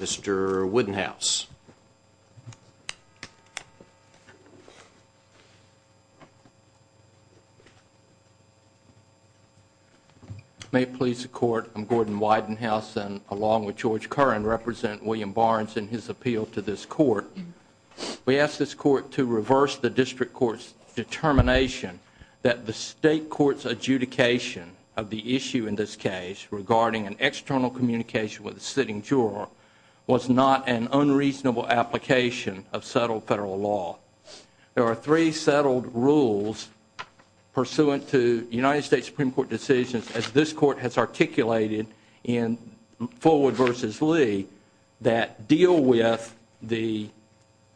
Mr. Widenhouse. May it please the court, I'm Gordon Widenhouse and along with George Curran represent William Barnes in his appeal to this court. We ask this court to reverse the district court's determination that the state court's adjudication of the issue in this case regarding an external communication with a sitting juror was not an unreasonable application of settled federal law. There are three settled rules pursuant to United States Supreme Court decisions as this court has articulated in Fullwood v. Lee that deal with the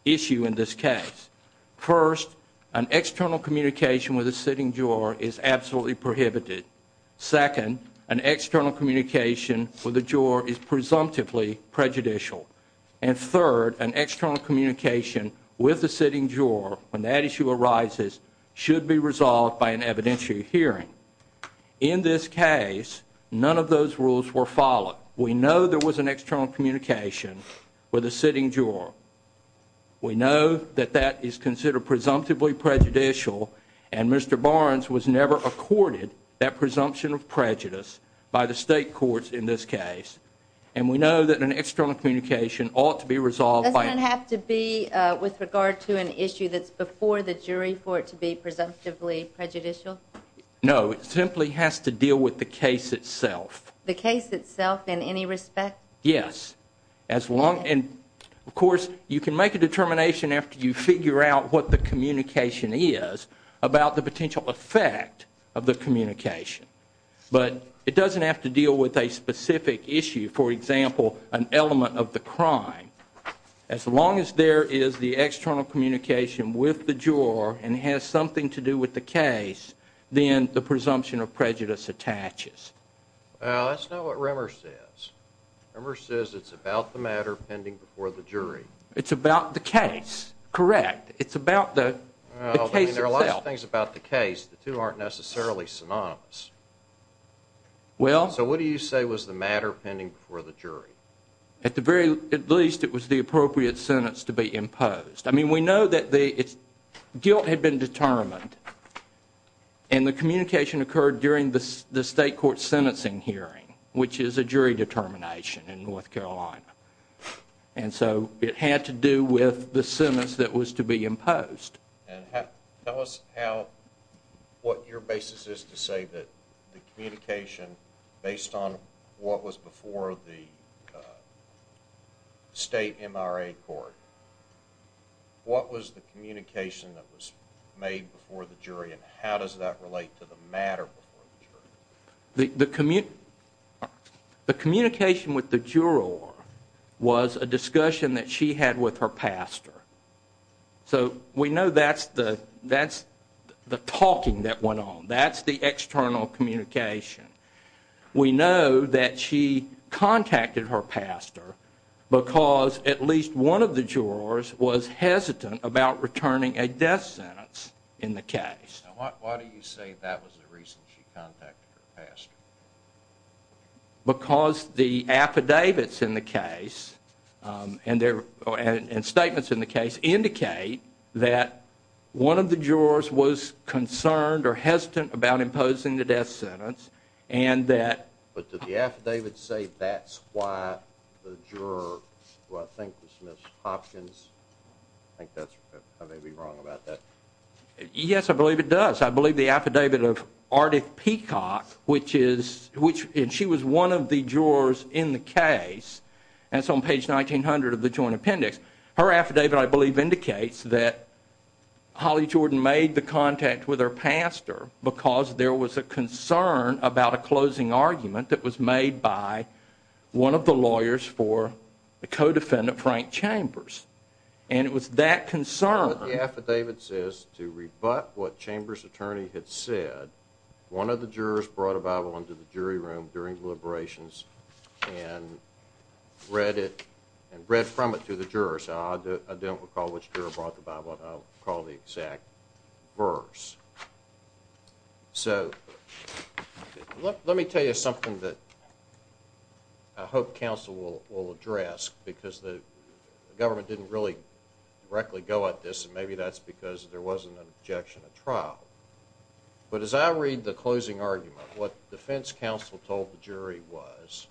issue in this case. First, an external communication with a sitting juror is absolutely prohibited. Second, an external communication for the prejudicial and third, an external communication with the sitting juror when that issue arises should be resolved by an evidentiary hearing. In this case none of those rules were followed. We know there was an external communication with a sitting juror. We know that that is considered presumptively prejudicial and Mr. Barnes was never accorded that presumption of external communication ought to be resolved by... Does it have to be with regard to an issue that's before the jury for it to be presumptively prejudicial? No, it simply has to deal with the case itself. The case itself in any respect? Yes. As long and of course you can make a determination after you figure out what the communication is about the potential effect of the communication but it element of the crime as long as there is the external communication with the juror and has something to do with the case then the presumption of prejudice attaches. Well, that's not what Rimmer says. Rimmer says it's about the matter pending before the jury. It's about the case, correct. It's about the case itself. There are a lot of things about the case. The two aren't necessarily synonymous. So what do you say was the matter pending before the jury? At the very least it was the appropriate sentence to be imposed. I mean we know that the guilt had been determined and the communication occurred during the state court sentencing hearing which is a jury determination in North Carolina and so it had to do with the sentence that was to be imposed. Tell us what your basis is to say that the communication based on what was before the state MRA court, what was the communication that was made before the jury and how does that relate to the matter before the jury? The communication with the juror was a discussion that she had with her pastor. So we know that's the talking that went on. That's the external communication. We know that she contacted her pastor because at least one of the jurors was hesitant about returning a death sentence in the case. Why do you say that was the reason she contacted her pastor? Because the affidavits in the case and statements in the case indicate that one of the jurors was concerned or hesitant about imposing the death sentence and that... But did the affidavit say that's why the juror, who I think was Ms. Hopkins, I think that's right, I may be wrong about that. Yes I believe it does. I believe the affidavit of Ardeth Peacock which is, which she was one of the jurors in the case and it's on page 1900 of the joint appendix. Her affidavit I believe indicates that Holly Jordan made the contact with her pastor because there was a concern about a closing argument that was made by one of the lawyers for the co-defendant Frank Chambers. And it was that concern... So let me tell you something that I hope counsel will address because the government didn't really directly go at this and maybe that's because there wasn't an objection at trial. But as I read the closing argument, what defense counsel told the jury was,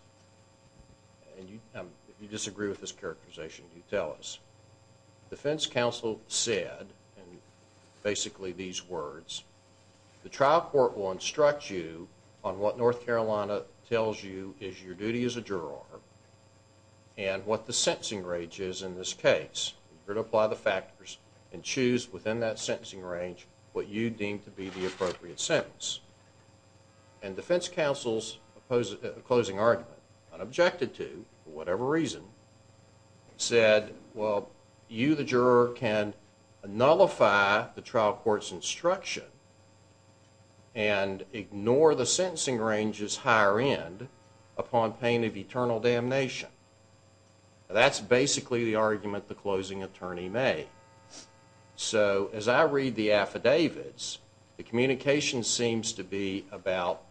and you disagree with this characterization, you tell us, defense counsel said, basically these words, the trial court will instruct you on what North Carolina tells you is your duty as a juror and what the sentencing range is in this case. You're to apply the factors and choose within that sentencing range what you deem to be the appropriate sentence. And defense counsel's closing argument, unobjected to for whatever reason, said, well you the juror can nullify the trial court's instruction and ignore the sentencing range's higher end upon pain of eternal damnation. That's basically the argument the closing attorney made. So as I read the affidavits, the communication seems to be about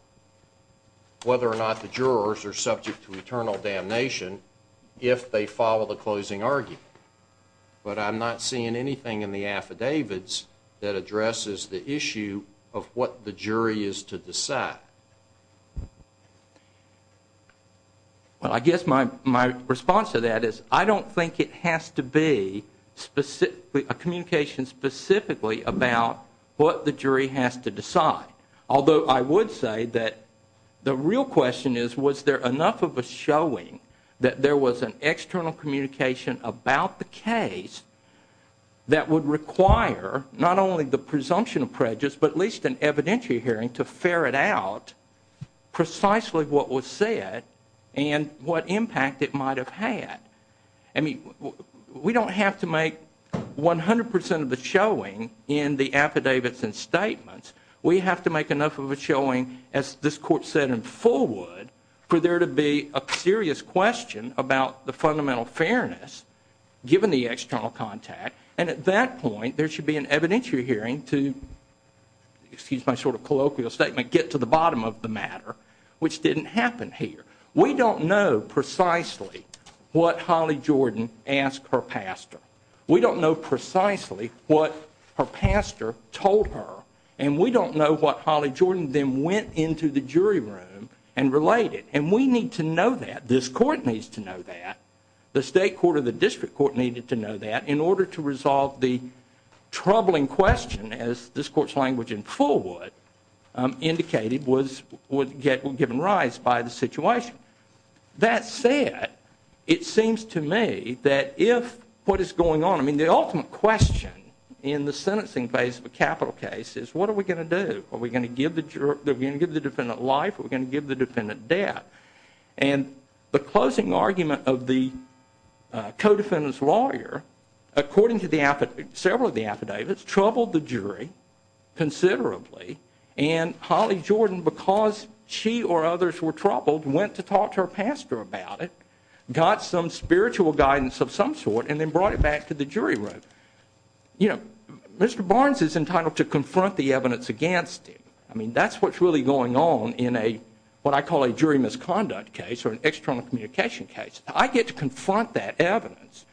whether or not the jurors are subject to eternal damnation if they follow the closing argument. But I'm not seeing anything in the affidavits that addresses the issue of what the jury is to decide. Well I guess my response to that is I don't think it has to be a communication specifically about what the jury has to decide. Although I would say that the real question is was there enough of a showing that there was an external communication about the case that would require not only the presumption of prejudice but at least an evidentiary hearing to ferret out precisely what was said and what impact it might have had. I mean we don't have to make 100% of the showing in the affidavits and statements. We have to make enough of a showing, as this court said in Fullwood, for there to be a serious question about the fundamental fairness given the external contact and at that point there should be an evidentiary hearing to, excuse my sort of colloquial statement, get to the bottom of the matter, which didn't happen here. We don't know precisely what Holly Jordan asked her pastor. We don't know precisely what her pastor told her. And we don't know what Holly Jordan then went into the jury room and related. And we need to know that. This court needs to know that. The state court or the district court needed to know that in order to resolve the troubling question as this court's language in Fullwood indicated was given rise by the situation. That said, it seems to me that if what is going on, I mean the ultimate question in the sentencing phase of a capital case is what are we going to do? Are we going to give the defendant life or are we going to give the defendant death? And the closing argument of the co-defendant's lawyer, according to several of the affidavits, troubled the jury considerably and Holly Jordan, because she or others were troubled, went to talk to her pastor about it, got some spiritual guidance of some sort and then brought it back to the jury room. You know, Mr. Barnes is entitled to confront the evidence against him. I mean, that's what's really going on in a what I call a jury misconduct case or an external communication case. I get to confront that evidence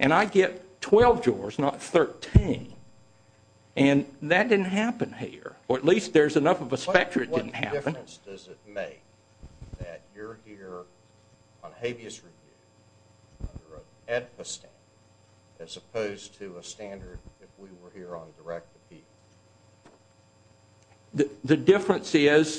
and I get 12 jurors, not 13. And that didn't happen here. Or at least there's enough of a specter it didn't happen. What difference does it make that you're here on habeas review under an AEDPA standard as opposed to a standard if we were here on direct appeal? And the NoVo review of the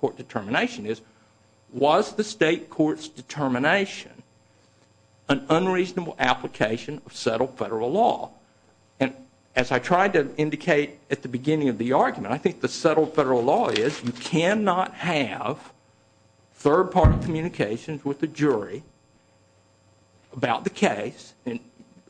court determination is, was the state court's determination an unreasonable application of settled federal law? And as I tried to indicate at the beginning of the argument, I think the settled federal law is you cannot have third-party communications with the jury about the case and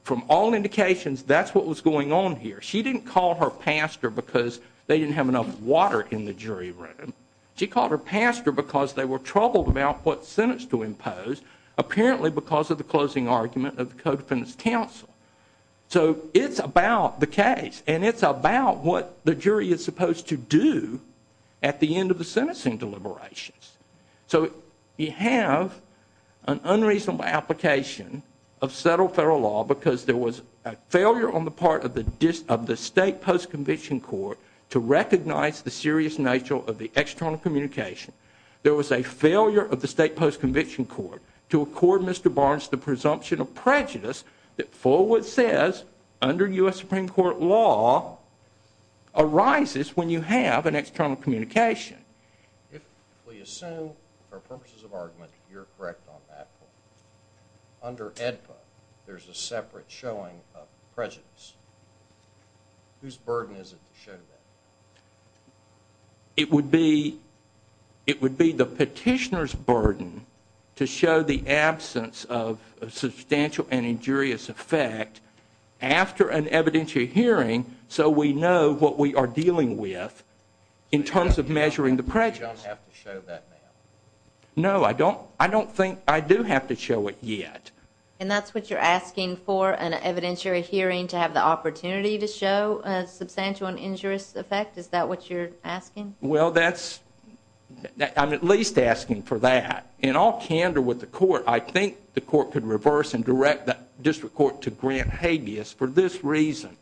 from all indications, that's what was going on here. She didn't call her pastor because they didn't have enough water in the jury room. She called her pastor because they were troubled about what sentence to impose, apparently because of the closing argument of the Code Defendant's Council. So it's about the case and it's about what the jury is supposed to do at the end of the sentencing deliberations. So you have an unreasonable application of settled federal law because there was a failure on the part of the state post-conviction court to recognize the serious nature of the external communication. There was a failure of the state post-conviction court to accord Mr. Barnes the presumption of prejudice that Fullwood says under U.S. Supreme Court law arises when you have an external communication. If we assume, for purposes of argument, you're correct on that point. Under AEDPA, there's a separate showing of prejudice. Whose burden is it to show that? It would be the petitioner's burden to show the absence of substantial and injurious effect after an evidentiary hearing so we know what we are dealing with in terms of measuring the prejudice. You don't have to show that now. No, I don't think, I do have to show it yet. And that's what you're asking for, an evidentiary hearing to have the opportunity to show a substantial and injurious effect? Is that what you're asking? Well, that's, I'm at least asking for that. In all candor with the court, I think the court could reverse and direct the district court to grant habeas for this reason.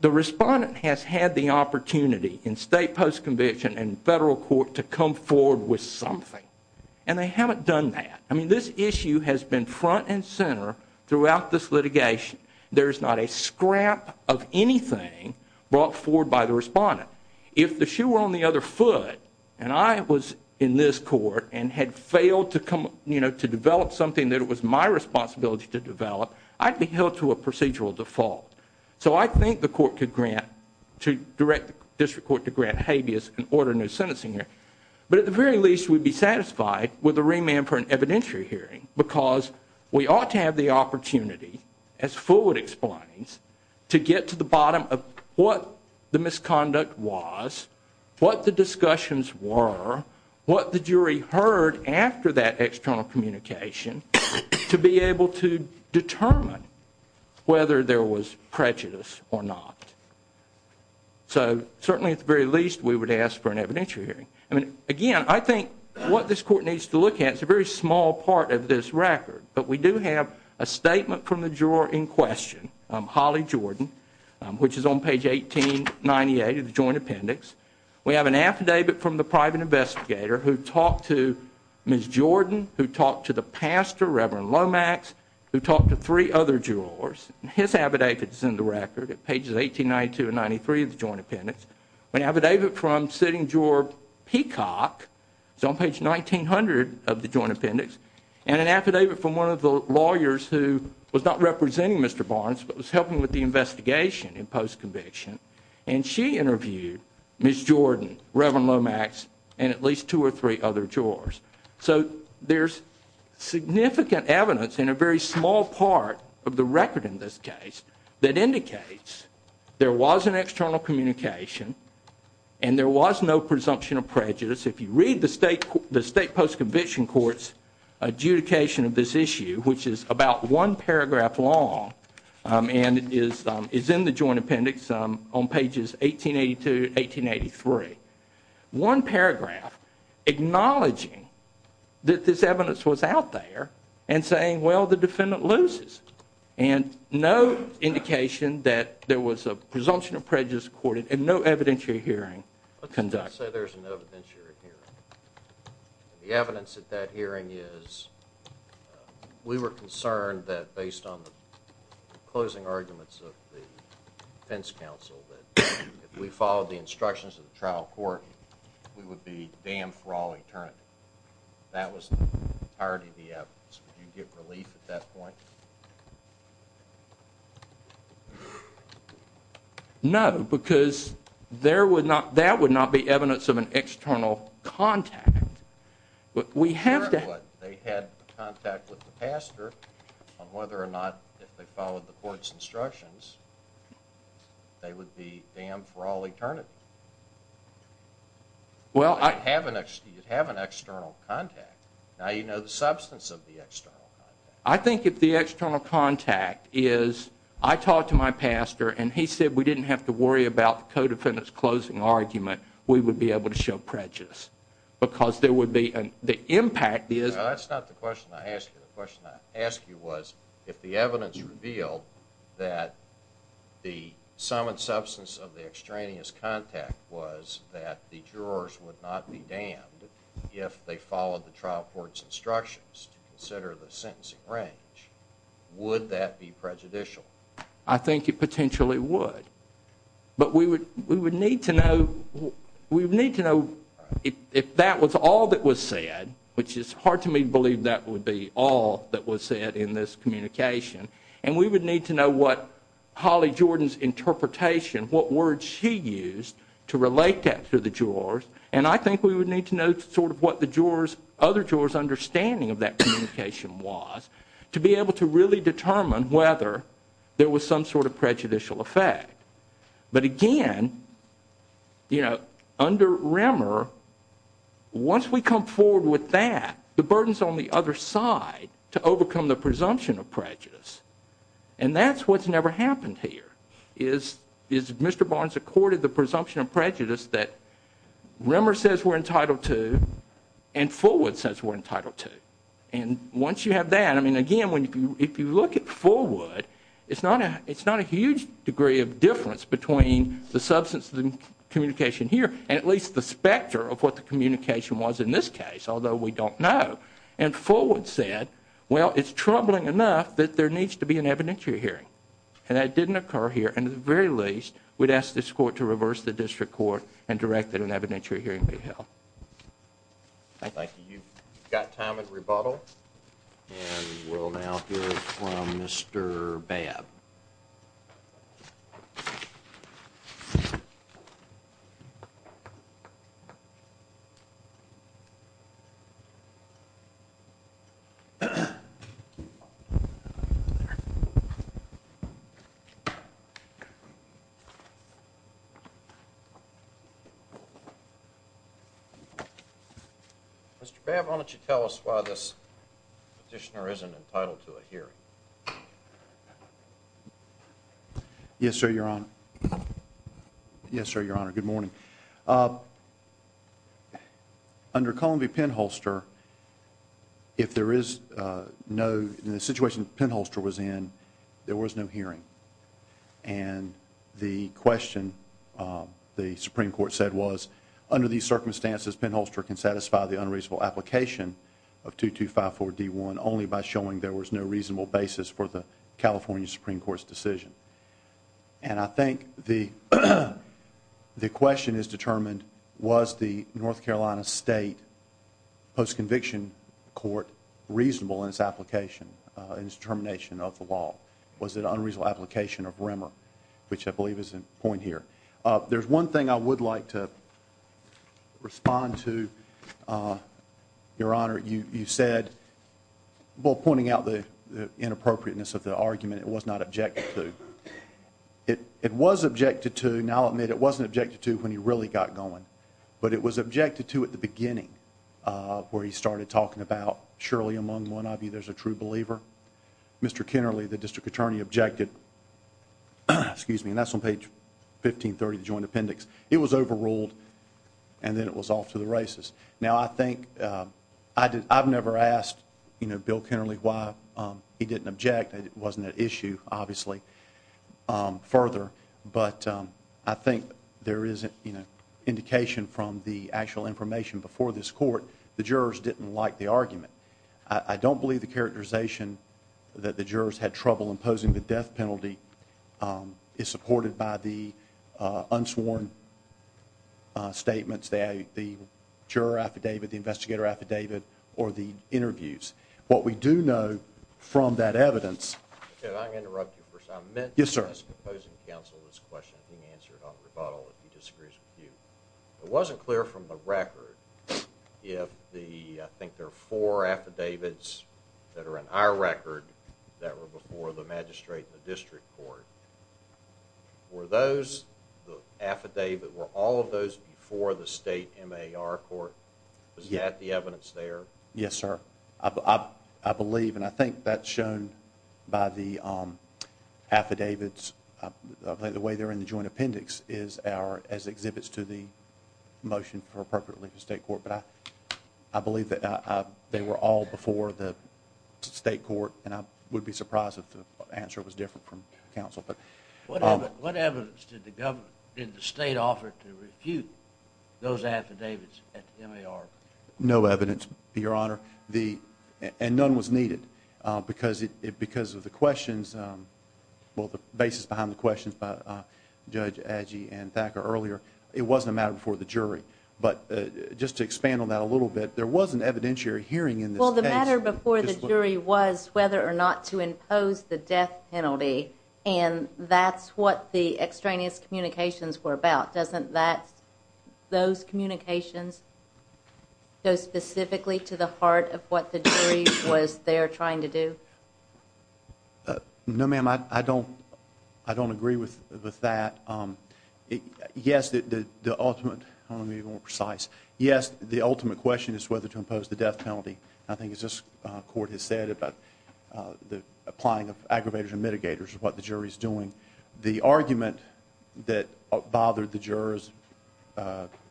The respondent has had the opportunity in state post-conviction and federal court to come forward with something. And they haven't done that. I mean, this issue has been front and center throughout this litigation. There's not a scrap of anything brought forward by the respondent. If the shoe were on the other foot, and I was in this court and had failed to develop something that it was my responsibility to develop, I'd be held to a procedural default. So I think the court could grant, to direct the district court to grant habeas and order no sentencing here. But at the very least, we'd be satisfied with a remand for an evidentiary hearing because we ought to have the opportunity, as Fullwood explains, to get to the bottom of what the misconduct was, what the discussions were, what the jury heard after that external communication to be able to determine whether there was prejudice or not. So certainly at the very least, we would ask for an evidentiary hearing. Again, I think what this court needs to look at is a very small part of this record. But we do have a statement from the juror in question, Holly Jordan, which is on page 1898 of the joint appendix. We have an affidavit from the private investigator who talked to Ms. Jordan, who talked to the pastor, Reverend Lomax, who talked to three other jurors. His affidavit is in the record at pages 1892 and 1893 of the joint appendix. We have an affidavit from sitting juror Peacock, it's on page 1900 of the joint appendix. And an affidavit from one of the lawyers who was not representing Mr. Barnes but was helping with the investigation in post-conviction. And she interviewed Ms. Jordan, Reverend Lomax, and at least two or three other jurors. So there's significant evidence in a very small part of the record in this case that indicates there was an external communication and there was no presumption of prejudice. If you read the state post-conviction court's adjudication of this issue, which is about one paragraph long and is in the joint appendix on pages 1882 and 1883. One paragraph acknowledging that this evidence was out there and saying, well, the defendant loses. And no indication that there was a presumption of prejudice recorded and no evidentiary hearing conducted. Let's just say there's an evidentiary hearing. The evidence at that hearing is we were concerned that based on the closing arguments of the defense counsel that if we followed the instructions of the trial court, we would be damned for all eternity. That was the entirety of the evidence. Did you get relief at that point? No, because that would not be evidence of an external contact. But we have to... They had contact with the pastor on whether or not if they followed the court's instructions, they would be damned for all eternity. Well, you'd have an external contact. Now you know the substance of the external contact. I think if the external contact is, I talked to my pastor and he said we didn't have to worry about the co-defendant's closing argument, we would be able to show prejudice. Because there would be... the impact is... That's not the question I asked you. The question I asked you was if the evidence revealed that the sum and substance of the extraneous contact was that the jurors would not be damned if they followed the trial court's instructions to consider the sentencing range, would that be prejudicial? I think it potentially would. But we would need to know if that was all that was said, which is hard to me to believe that would be all that was said in this communication. And we would need to know what Holly Jordan's interpretation, what words she used to relate that to the jurors. And I think we would need to know sort of what the other jurors' understanding of that communication was to be able to really determine whether there was some sort of prejudicial effect. But again, you know, under Remmer, once we come forward with that, the burden's on the other side to overcome the presumption of prejudice. And that's what's never happened here. Is Mr. Barnes accorded the presumption of prejudice that Remmer says we're entitled to and Fullwood says we're entitled to. And once you have that, I mean, again, if you look at Fullwood, it's not a huge degree of difference between the substance of the communication here and at least the specter of what the communication was in this case, although we don't know. And Fullwood said, well, it's troubling enough that there needs to be an evidentiary hearing. And that didn't occur here. And at the very least, we'd ask this court to reverse the district court and directed an evidentiary hearing be held. Thank you. You've got time at rebuttal and we'll now hear from Mr. Babb. Mr. Babb, why don't you tell us why this petitioner isn't entitled to a hearing? Yes, sir, your honor. Yes, sir, your honor. Good morning. Under Columbia Penholster, if there is no, in the situation Penholster was in, there was no hearing. And the question the Supreme Court said was, under these circumstances, Penholster can satisfy the unreasonable application of 2254 D1 only by showing there was no reasonable basis for the California Supreme Court's decision. And I think the question is determined, was the North Carolina State Post-Conviction Court reasonable in its application, in its determination of the law? Was it an unreasonable application of Rimmer? Which I believe is the point here. There's one thing I would like to respond to. Your honor, you said, well, pointing out the inappropriateness of the argument, it was not objected to. It was objected to, and I'll admit it wasn't objected to when he really got going. But it was objected to at the beginning, where he started talking about, surely among one of you there's a true believer. Mr. Kennerly, the district attorney, objected, excuse me, and that's on page 1530 of the joint appendix. It was overruled, and then it was off to the races. Now, I think, I've never asked Bill Kennerly why he didn't object. It wasn't an issue, obviously, further. But I think there is indication from the actual information before this court, the jurors didn't like the argument. I don't believe the characterization that the jurors had trouble imposing the death penalty is supported by the unsworn statements. The juror affidavit, the investigator affidavit, or the interviews. What we do know from that evidence... I'm going to interrupt you for a second. Yes, sir. I meant to ask the opposing counsel this question being answered on rebuttal if he disagrees with you. It wasn't clear from the record if the, I think there are four affidavits that are in our record that were before the magistrate and the district court. Were those, the affidavit, were all of those before the state MAR court? Was that the evidence there? Yes, sir. I believe, and I think that's shown by the affidavits. I think the way they're in the joint appendix is our, as exhibits to the motion for appropriate relief to state court. But I believe that they were all before the state court and I would be surprised if the answer was different from counsel. What evidence did the government, did the state offer to refute those affidavits at the MAR? No evidence, your honor. And none was needed because of the questions, well the basis behind the questions by Judge Adgee and Thacker earlier. It wasn't a matter before the jury. But just to expand on that a little bit, there was an evidentiary hearing in this case. Well the matter before the jury was whether or not to impose the death penalty and that's what the extraneous communications were about. Doesn't that, those communications go specifically to the heart of what the jury was there trying to do? No ma'am, I don't, I don't agree with that. Yes, the ultimate, I want to be more precise. Yes, the ultimate question is whether to impose the death penalty. I think as this court has said about the applying of aggravators and mitigators is what the jury is doing. The argument that bothered the jurors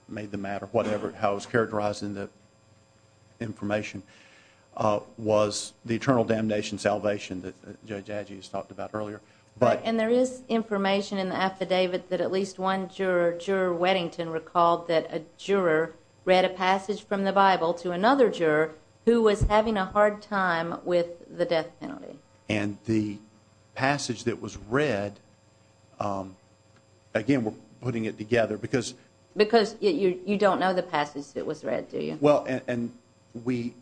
made the matter whatever, how it was characterized in the information, was the eternal damnation salvation that Judge Adgee has talked about earlier. And there is information in the affidavit that at least one juror, juror Weddington recalled that a juror read a passage from the Bible to another juror who was having a hard time with the death penalty. And the passage that was read, again we're putting it together because. Because you don't know the passage that was read do you? Well, and we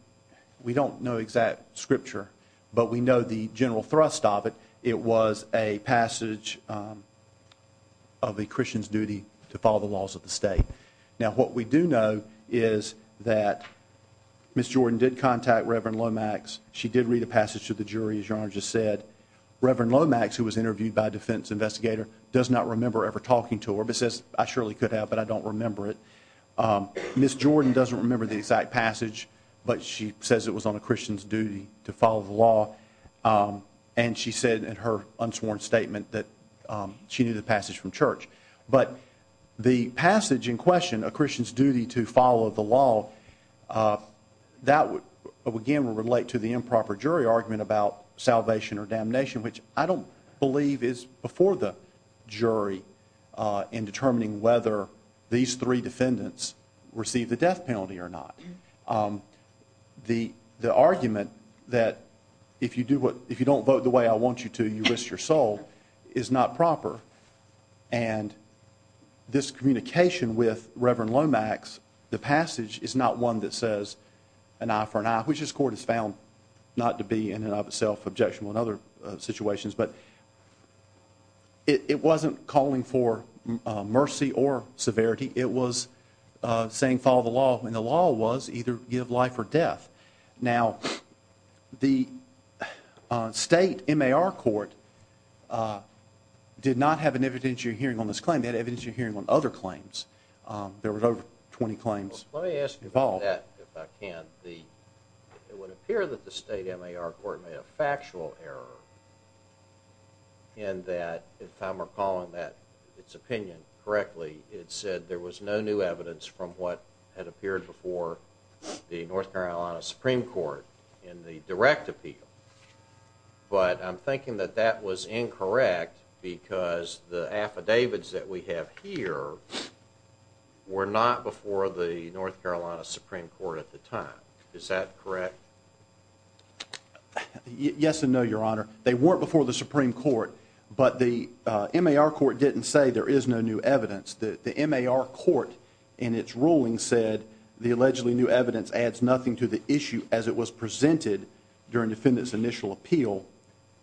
don't know exact scripture, but we know the general thrust of it. It was a passage of a Christian's duty to follow the laws of the state. Now what we do know is that Ms. Jordan did contact Reverend Lomax. She did read a passage to the jury as your Honor just said. Reverend Lomax who was interviewed by a defense investigator does not remember ever talking to her. But says I surely could have, but I don't remember it. Ms. Jordan doesn't remember the exact passage, but she says it was on a Christian's duty to follow the law. And she said in her unsworn statement that she knew the passage from church. But the passage in question, a Christian's duty to follow the law, that again would relate to the improper jury argument about salvation or damnation, which I don't believe is before the jury in determining whether these three defendants receive the death penalty or not. The argument that if you don't vote the way I want you to, you risk your soul is not proper. And this communication with Reverend Lomax, the passage is not one that says an eye for an eye, which this court has found not to be in and of itself objectionable in other situations. But it wasn't calling for mercy or severity. It was saying follow the law, and the law was either give life or death. Now, the state MAR court did not have an evidentiary hearing on this claim. They had evidentiary hearing on other claims. There were over 20 claims involved. It would appear that the state MAR court made a factual error in that if I'm recalling its opinion correctly, it said there was no new evidence from what had appeared before the North Carolina Supreme Court in the direct appeal. But I'm thinking that that was incorrect because the affidavits that we have here were not before the North Carolina Supreme Court at the time. Is that correct? Yes and no, Your Honor. They weren't before the Supreme Court, but the MAR court didn't say there is no new evidence. The MAR court in its ruling said the allegedly new evidence adds nothing to the issue as it was presented during defendant's initial appeal,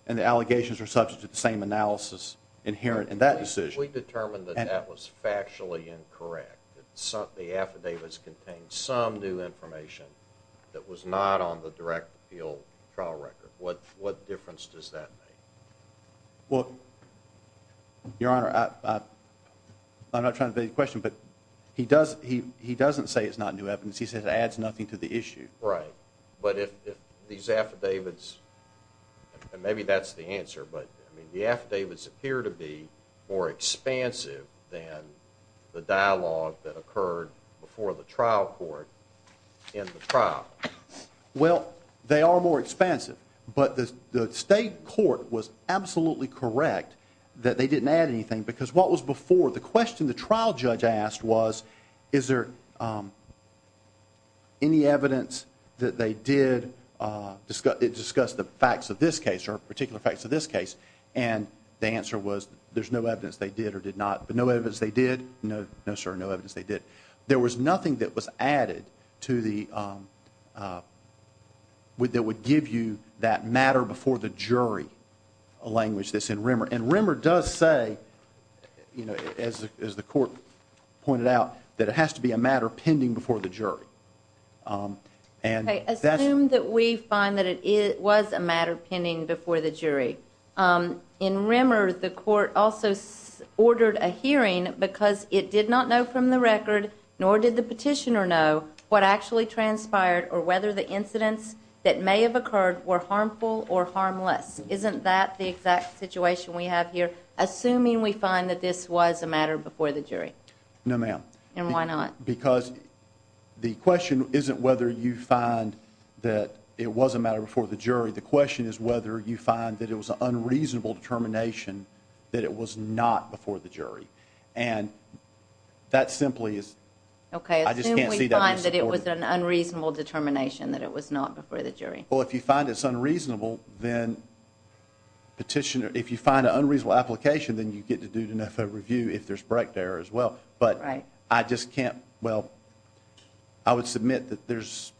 and the allegations are subject to the same analysis inherent in that decision. If we determined that that was factually incorrect, that the affidavits contained some new information that was not on the direct appeal trial record, what difference does that make? Well, Your Honor, I'm not trying to beg your question, but he doesn't say it's not new evidence. He says it adds nothing to the issue. Right, but if these affidavits, and maybe that's the answer, but the affidavits appear to be more expansive than the dialogue that occurred before the trial court in the trial. Well, they are more expansive, but the state court was absolutely correct that they didn't add anything because what was before, the question the trial judge asked was, is there any evidence that they did discuss the facts of this case or particular facts of this case? And the answer was there's no evidence they did or did not. But no evidence they did, no, no, sir, no evidence they did. There was nothing that was added to the, that would give you that matter before the jury language that's in Rimmer. And Rimmer does say, as the court pointed out, that it has to be a matter pending before the jury. Assume that we find that it was a matter pending before the jury. In Rimmer, the court also ordered a hearing because it did not know from the record, nor did the petitioner know what actually transpired or whether the incidents that may have occurred were harmful or harmless. Isn't that the exact situation we have here? Assuming we find that this was a matter before the jury. No, ma'am. And why not? Because the question isn't whether you find that it was a matter before the jury. The question is whether you find that it was an unreasonable determination that it was not before the jury. And that simply is, I just can't see that being supported. Okay, assuming we find that it was an unreasonable determination that it was not before the jury. Well, if you find it's unreasonable, then petitioner, if you find an unreasonable application, then you get to do an FOA review if there's correct error as well. Right. But I just can't, well, I would submit that there's,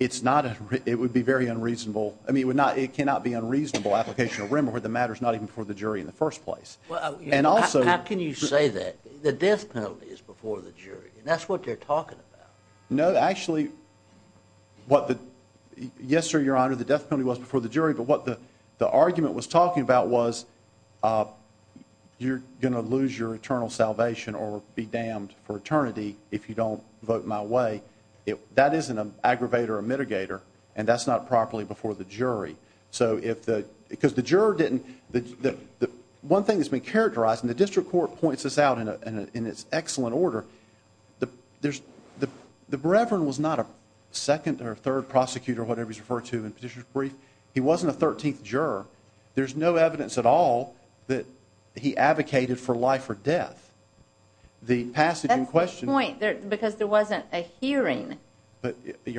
it's not, it would be very unreasonable. I mean, it would not, it cannot be unreasonable application of Rimmer where the matter's not even before the jury in the first place. And also. How can you say that? The death penalty is before the jury, and that's what they're talking about. No, actually, what the, yes, sir, your honor, the death penalty was before the jury, but what the argument was talking about was you're going to lose your eternal salvation or be damned for eternity if you don't vote my way. That isn't an aggravator or mitigator, and that's not properly before the jury. So if the, because the juror didn't, the one thing that's been characterized, and the district court points this out in its excellent order, the reverend was not a second or third prosecutor or whatever he's referred to in Petitioner's Brief. He wasn't a 13th juror. There's no evidence at all that he advocated for life or death. The passage in question. That's the point, because there wasn't a hearing to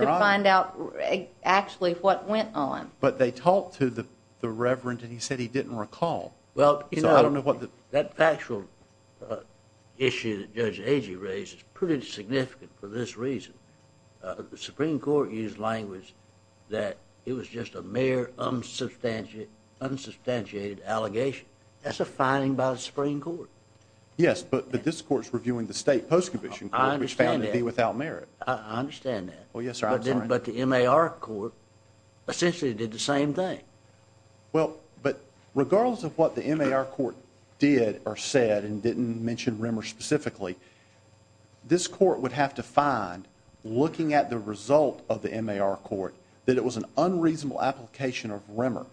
find out actually what went on. But they talked to the reverend, and he said he didn't recall. Well, you know, that factual issue that Judge Agee raised is pretty significant for this reason. The Supreme Court used language that it was just a mere unsubstantiated allegation. That's a finding by the Supreme Court. Yes, but this court's reviewing the state post-commission court, which found it to be without merit. I understand that. Well, yes, sir, I'm sorry. But the MAR court essentially did the same thing. Well, but regardless of what the MAR court did or said and didn't mention Rimmer specifically, this court would have to find, looking at the result of the MAR court, that it was an unreasonable application of Rimmer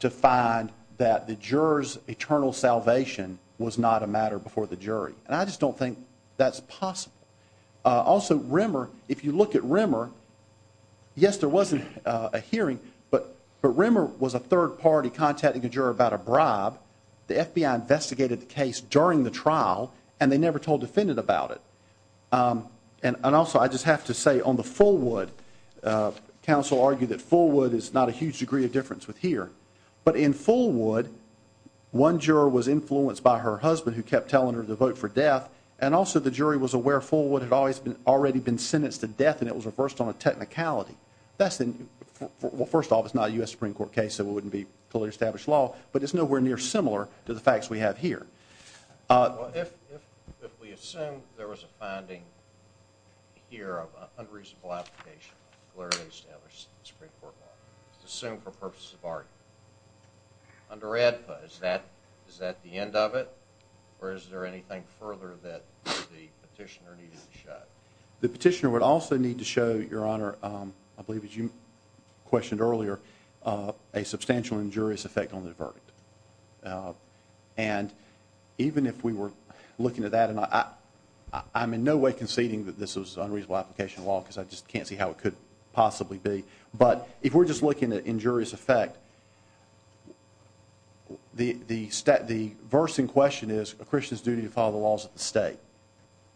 to find that the juror's eternal salvation was not a matter before the jury. And I just don't think that's possible. Also, Rimmer, if you look at Rimmer, yes, there was a hearing, but Rimmer was a third party contacting a juror about a bribe. The FBI investigated the case during the trial, and they never told a defendant about it. And also, I just have to say, on the Fulwood, counsel argued that Fulwood is not a huge degree of difference with here. But in Fulwood, one juror was influenced by her husband who kept telling her to vote for death, and also the jury was aware Fulwood had already been sentenced to death and it was reversed on a technicality. Well, first off, it's not a U.S. Supreme Court case, so it wouldn't be fully established law, but it's nowhere near similar to the facts we have here. If we assume there was a finding here of an unreasonable application, where it was established in the Supreme Court, assume for purposes of argument, under ADPA, is that the end of it, or is there anything further that the petitioner needed to show? The petitioner would also need to show, Your Honor, I believe as you questioned earlier, a substantial injurious effect on the verdict. And even if we were looking at that, and I'm in no way conceding that this was an unreasonable application of law because I just can't see how it could possibly be, but if we're just looking at injurious effect, the verse in question is a Christian's duty to follow the laws of the state.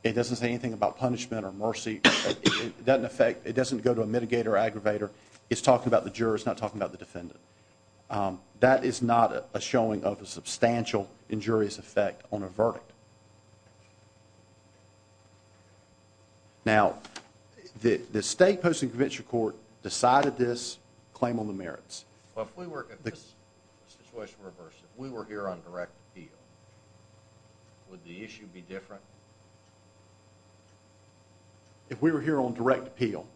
It doesn't say anything about punishment or mercy. It doesn't affect, it doesn't go to a mitigator or aggravator. It's talking about the juror, it's not talking about the defendant. That is not a showing of a substantial injurious effect on a verdict. Now, the state post and convention court decided this claim on the merits. Well, if we were here on direct appeal, would the issue be different? If we were here on direct appeal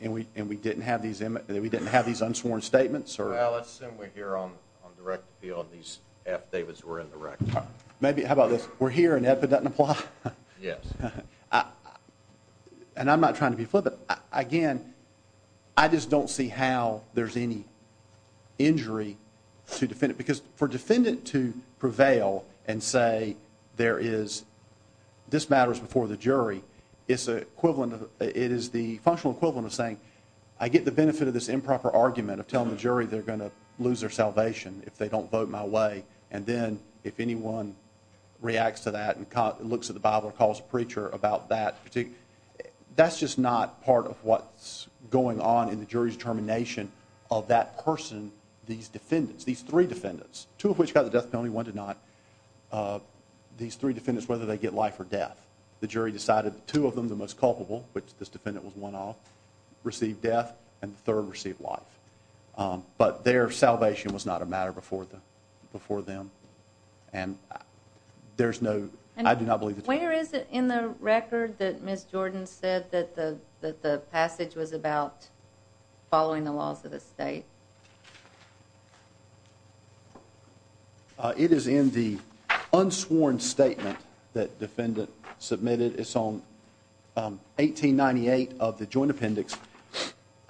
and we didn't have these unsworn statements? Well, let's assume we're here on direct appeal and these affidavits were indirect. How about this? We're here and ADPA doesn't apply? Yes. And I'm not trying to be flippant. Again, I just don't see how there's any injury to defend it because for a defendant to prevail and say this matters before the jury, it is the functional equivalent of saying I get the benefit of this improper argument of telling the jury they're going to lose their salvation if they don't vote my way and then if anyone reacts to that and looks at the Bible or calls a preacher about that, that's just not part of what's going on in the jury's determination of that person, these defendants, these three defendants, two of which got the death penalty, one did not, these three defendants whether they get life or death. The jury decided two of them, the most culpable, which this defendant was one of, received death and the third received life. But their salvation was not a matter before them. Where is it in the record that Ms. Jordan said that the passage was about following the laws of the state? It is in the unsworn statement that the defendant submitted. It's on 1898 of the joint appendix.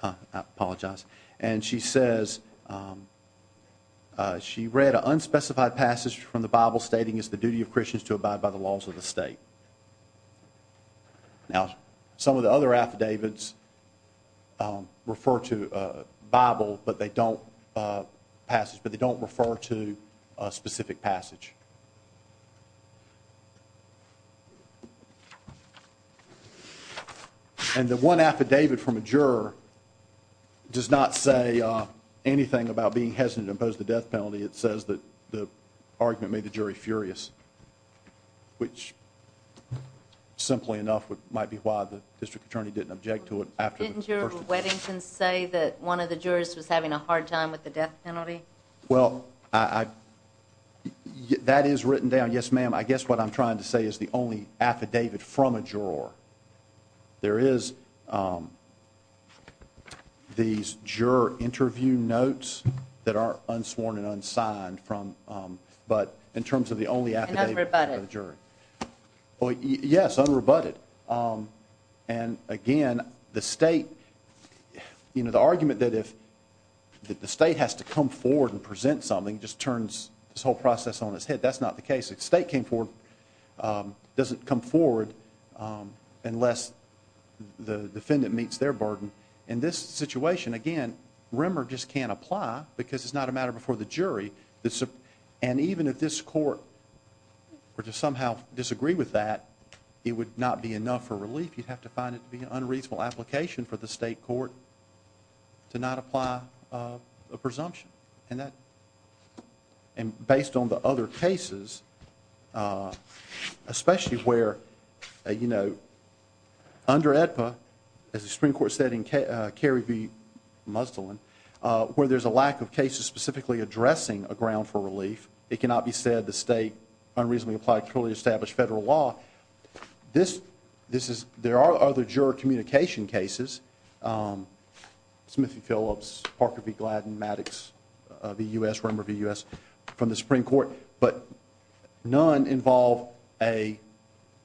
I apologize. And she says she read an unspecified passage from the Bible stating it's the duty of Christians to abide by the laws of the state. Now, some of the other affidavits refer to Bible but they don't passage, but they don't refer to a specific passage. And the one affidavit from a juror does not say anything about being hesitant to impose the death penalty. It says that the argument made the jury furious, which simply enough might be why the district attorney didn't object to it. Didn't Juror Weddington say that one of the jurors was having a hard time with the death penalty? Well, that is written down. Yes, ma'am. I guess what I'm trying to say is the only affidavit from a juror. There is these juror interview notes that are unsworn and unsigned, but in terms of the only affidavit from a juror. And unrebutted. Yes, unrebutted. And, again, the state, you know, the argument that if the state has to come forward and present something just turns this whole process on its head. That's not the case. If the state doesn't come forward unless the defendant meets their burden, in this situation, again, Rimmer just can't apply because it's not a matter before the jury. And even if this court were to somehow disagree with that, it would not be enough for relief. You'd have to find it to be an unreasonable application for the state court to not apply a presumption. And based on the other cases, especially where, you know, under AEDPA, as the Supreme Court said in Carey v. Musdallin, where there's a lack of cases specifically addressing a ground for relief, it cannot be said the state unreasonably applied a clearly established federal law. There are other juror communication cases, Smith v. Phillips, Parker v. Gladden, Maddox v. U.S., Rimmer v. U.S. from the Supreme Court, but none involve a...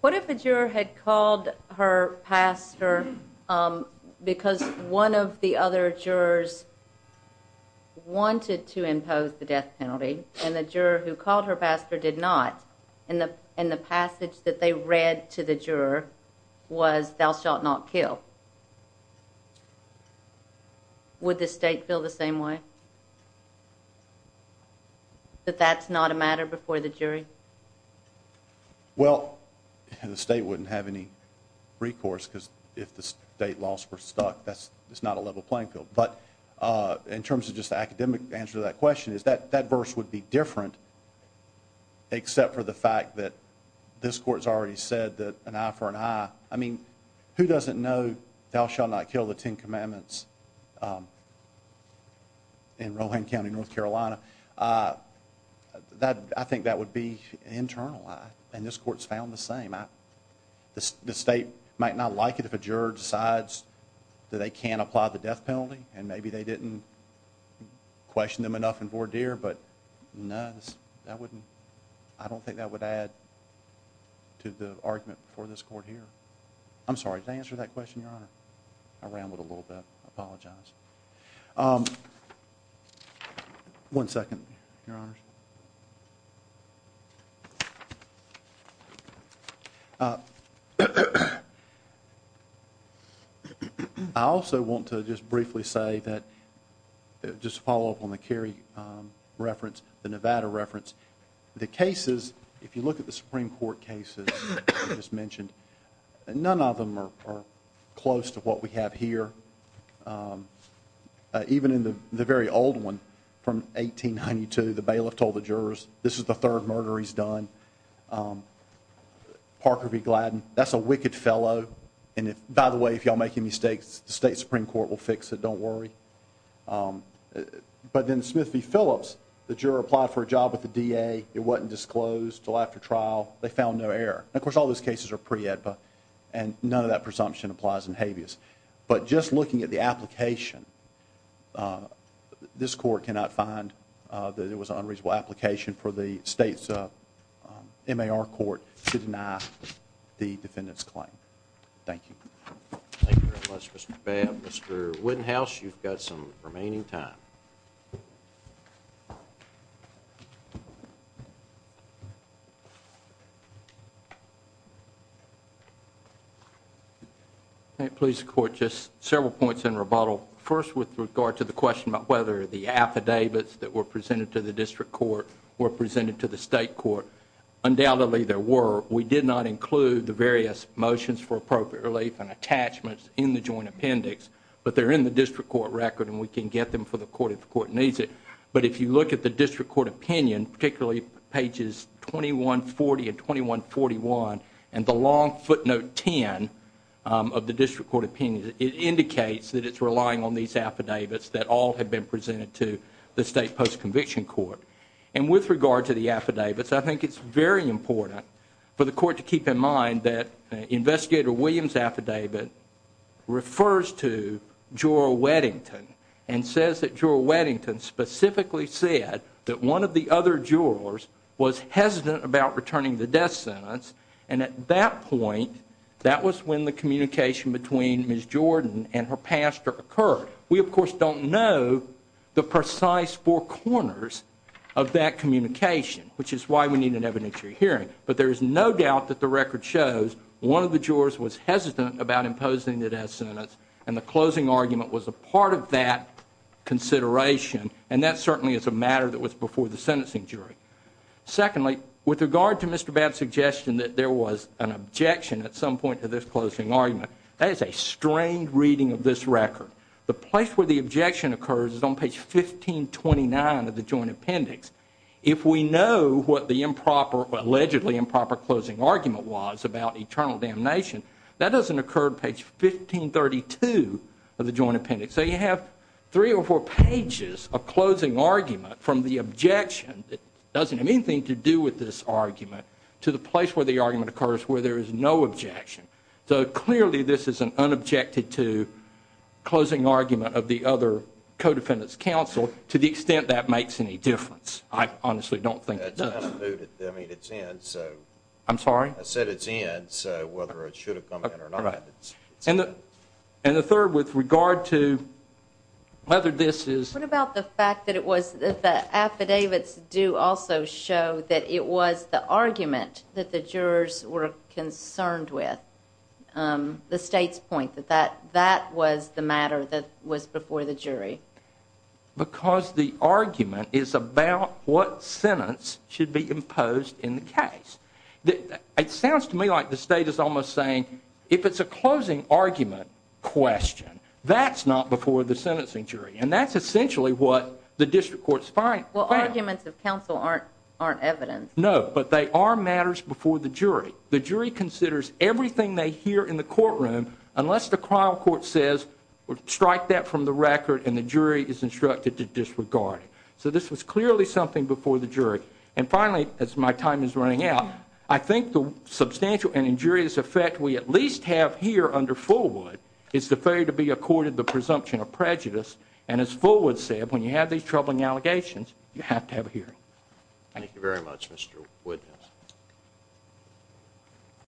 What if a juror had called her pastor because one of the other jurors wanted to impose the death penalty and the juror who called her pastor did not, and the passage that they read to the juror was, Thou shalt not kill. Would the state feel the same way? That that's not a matter before the jury? Well, the state wouldn't have any recourse because if the state laws were stuck, that's not a level playing field. But in terms of just the academic answer to that question, that verse would be different except for the fact that this court's already said that an eye for an eye. I mean, who doesn't know, Thou shalt not kill the Ten Commandments in Rohan County, North Carolina? I think that would be an internal lie, and this court's found the same. The state might not like it if a juror decides that they can't apply the death penalty, and maybe they didn't question them enough in voir dire, but no, I don't think that would add to the argument for this court here. I'm sorry, did I answer that question, Your Honor? I rambled a little bit. I apologize. One second, Your Honors. I also want to just briefly say that, just to follow up on the Kerry reference, the Nevada reference, the cases, if you look at the Supreme Court cases I just mentioned, none of them are close to what we have here. Even in the very old one from 1892, the bailiff told the jurors, this is the third murder he's done. Parker v. Gladden, that's a wicked fellow, and by the way, if y'all make any mistakes, the state Supreme Court will fix it, don't worry. But then Smith v. Phillips, the juror applied for a job with the DA, it wasn't disclosed until after trial, they found no error. Of course, all those cases are pre-EDPA, and none of that presumption applies in habeas. But just looking at the application, this court cannot find that it was an unreasonable application for the state's MAR court to deny the defendant's claim. Thank you. Thank you very much, Mr. Babb. Mr. Wittenhouse, you've got some remaining time. May it please the Court, just several points in rebuttal. First, with regard to the question about whether the affidavits that were presented to the district court were presented to the state court, undoubtedly there were. We did not include the various motions for appropriate relief and attachments in the joint appendix, but they're in the district court record and we can get them for the court if the court needs it. But if you look at the district court opinion, particularly pages 2140 and 2141, and the long footnote 10 of the district court opinion, it indicates that it's relying on these affidavits that all have been presented to the state post-conviction court. And with regard to the affidavits, I think it's very important for the court to keep in mind that Investigator Williams' affidavit refers to Jewel Weddington and says that Jewel Weddington specifically said that one of the other Jewelers was hesitant about returning the death sentence and at that point, that was when the communication between Ms. Jordan and her pastor occurred. We, of course, don't know the precise four corners of that communication, which is why we need an evidentiary hearing. But there is no doubt that the record shows one of the Jewelers was hesitant about imposing the death sentence and the closing argument was a part of that consideration and that certainly is a matter that was before the sentencing jury. Secondly, with regard to Mr. Babb's suggestion that there was an objection at some point to this closing argument, that is a strained reading of this record. The place where the objection occurs is on page 1529 of the joint appendix. If we know what the allegedly improper closing argument was about eternal damnation, that doesn't occur on page 1532 of the joint appendix. So you have three or four pages of closing argument from the objection, that doesn't have anything to do with this argument, to the place where the argument occurs where there is no objection. So clearly this is an unobjected to closing argument of the other co-defendants' counsel to the extent that makes any difference. I honestly don't think it does. I'm sorry? I said it's in, so whether it should have come in or not. And the third, with regard to whether this is... What about the fact that the affidavits do also show that it was the argument that the jurors were concerned with, that that was the matter that was before the jury? Because the argument is about what sentence should be imposed in the case. It sounds to me like the state is almost saying if it's a closing argument question, that's not before the sentencing jury. And that's essentially what the district court's finding. Well, arguments of counsel aren't evidence. No, but they are matters before the jury. The jury considers everything they hear in the courtroom unless the trial court says, strike that from the record, and the jury is instructed to disregard it. So this was clearly something before the jury. And finally, as my time is running out, I think the substantial and injurious effect we at least have here under Fullwood is the failure to be accorded the presumption of prejudice. And as Fullwood said, when you have these troubling allegations, you have to have a hearing. Thank you very much, Mr Woodhouse.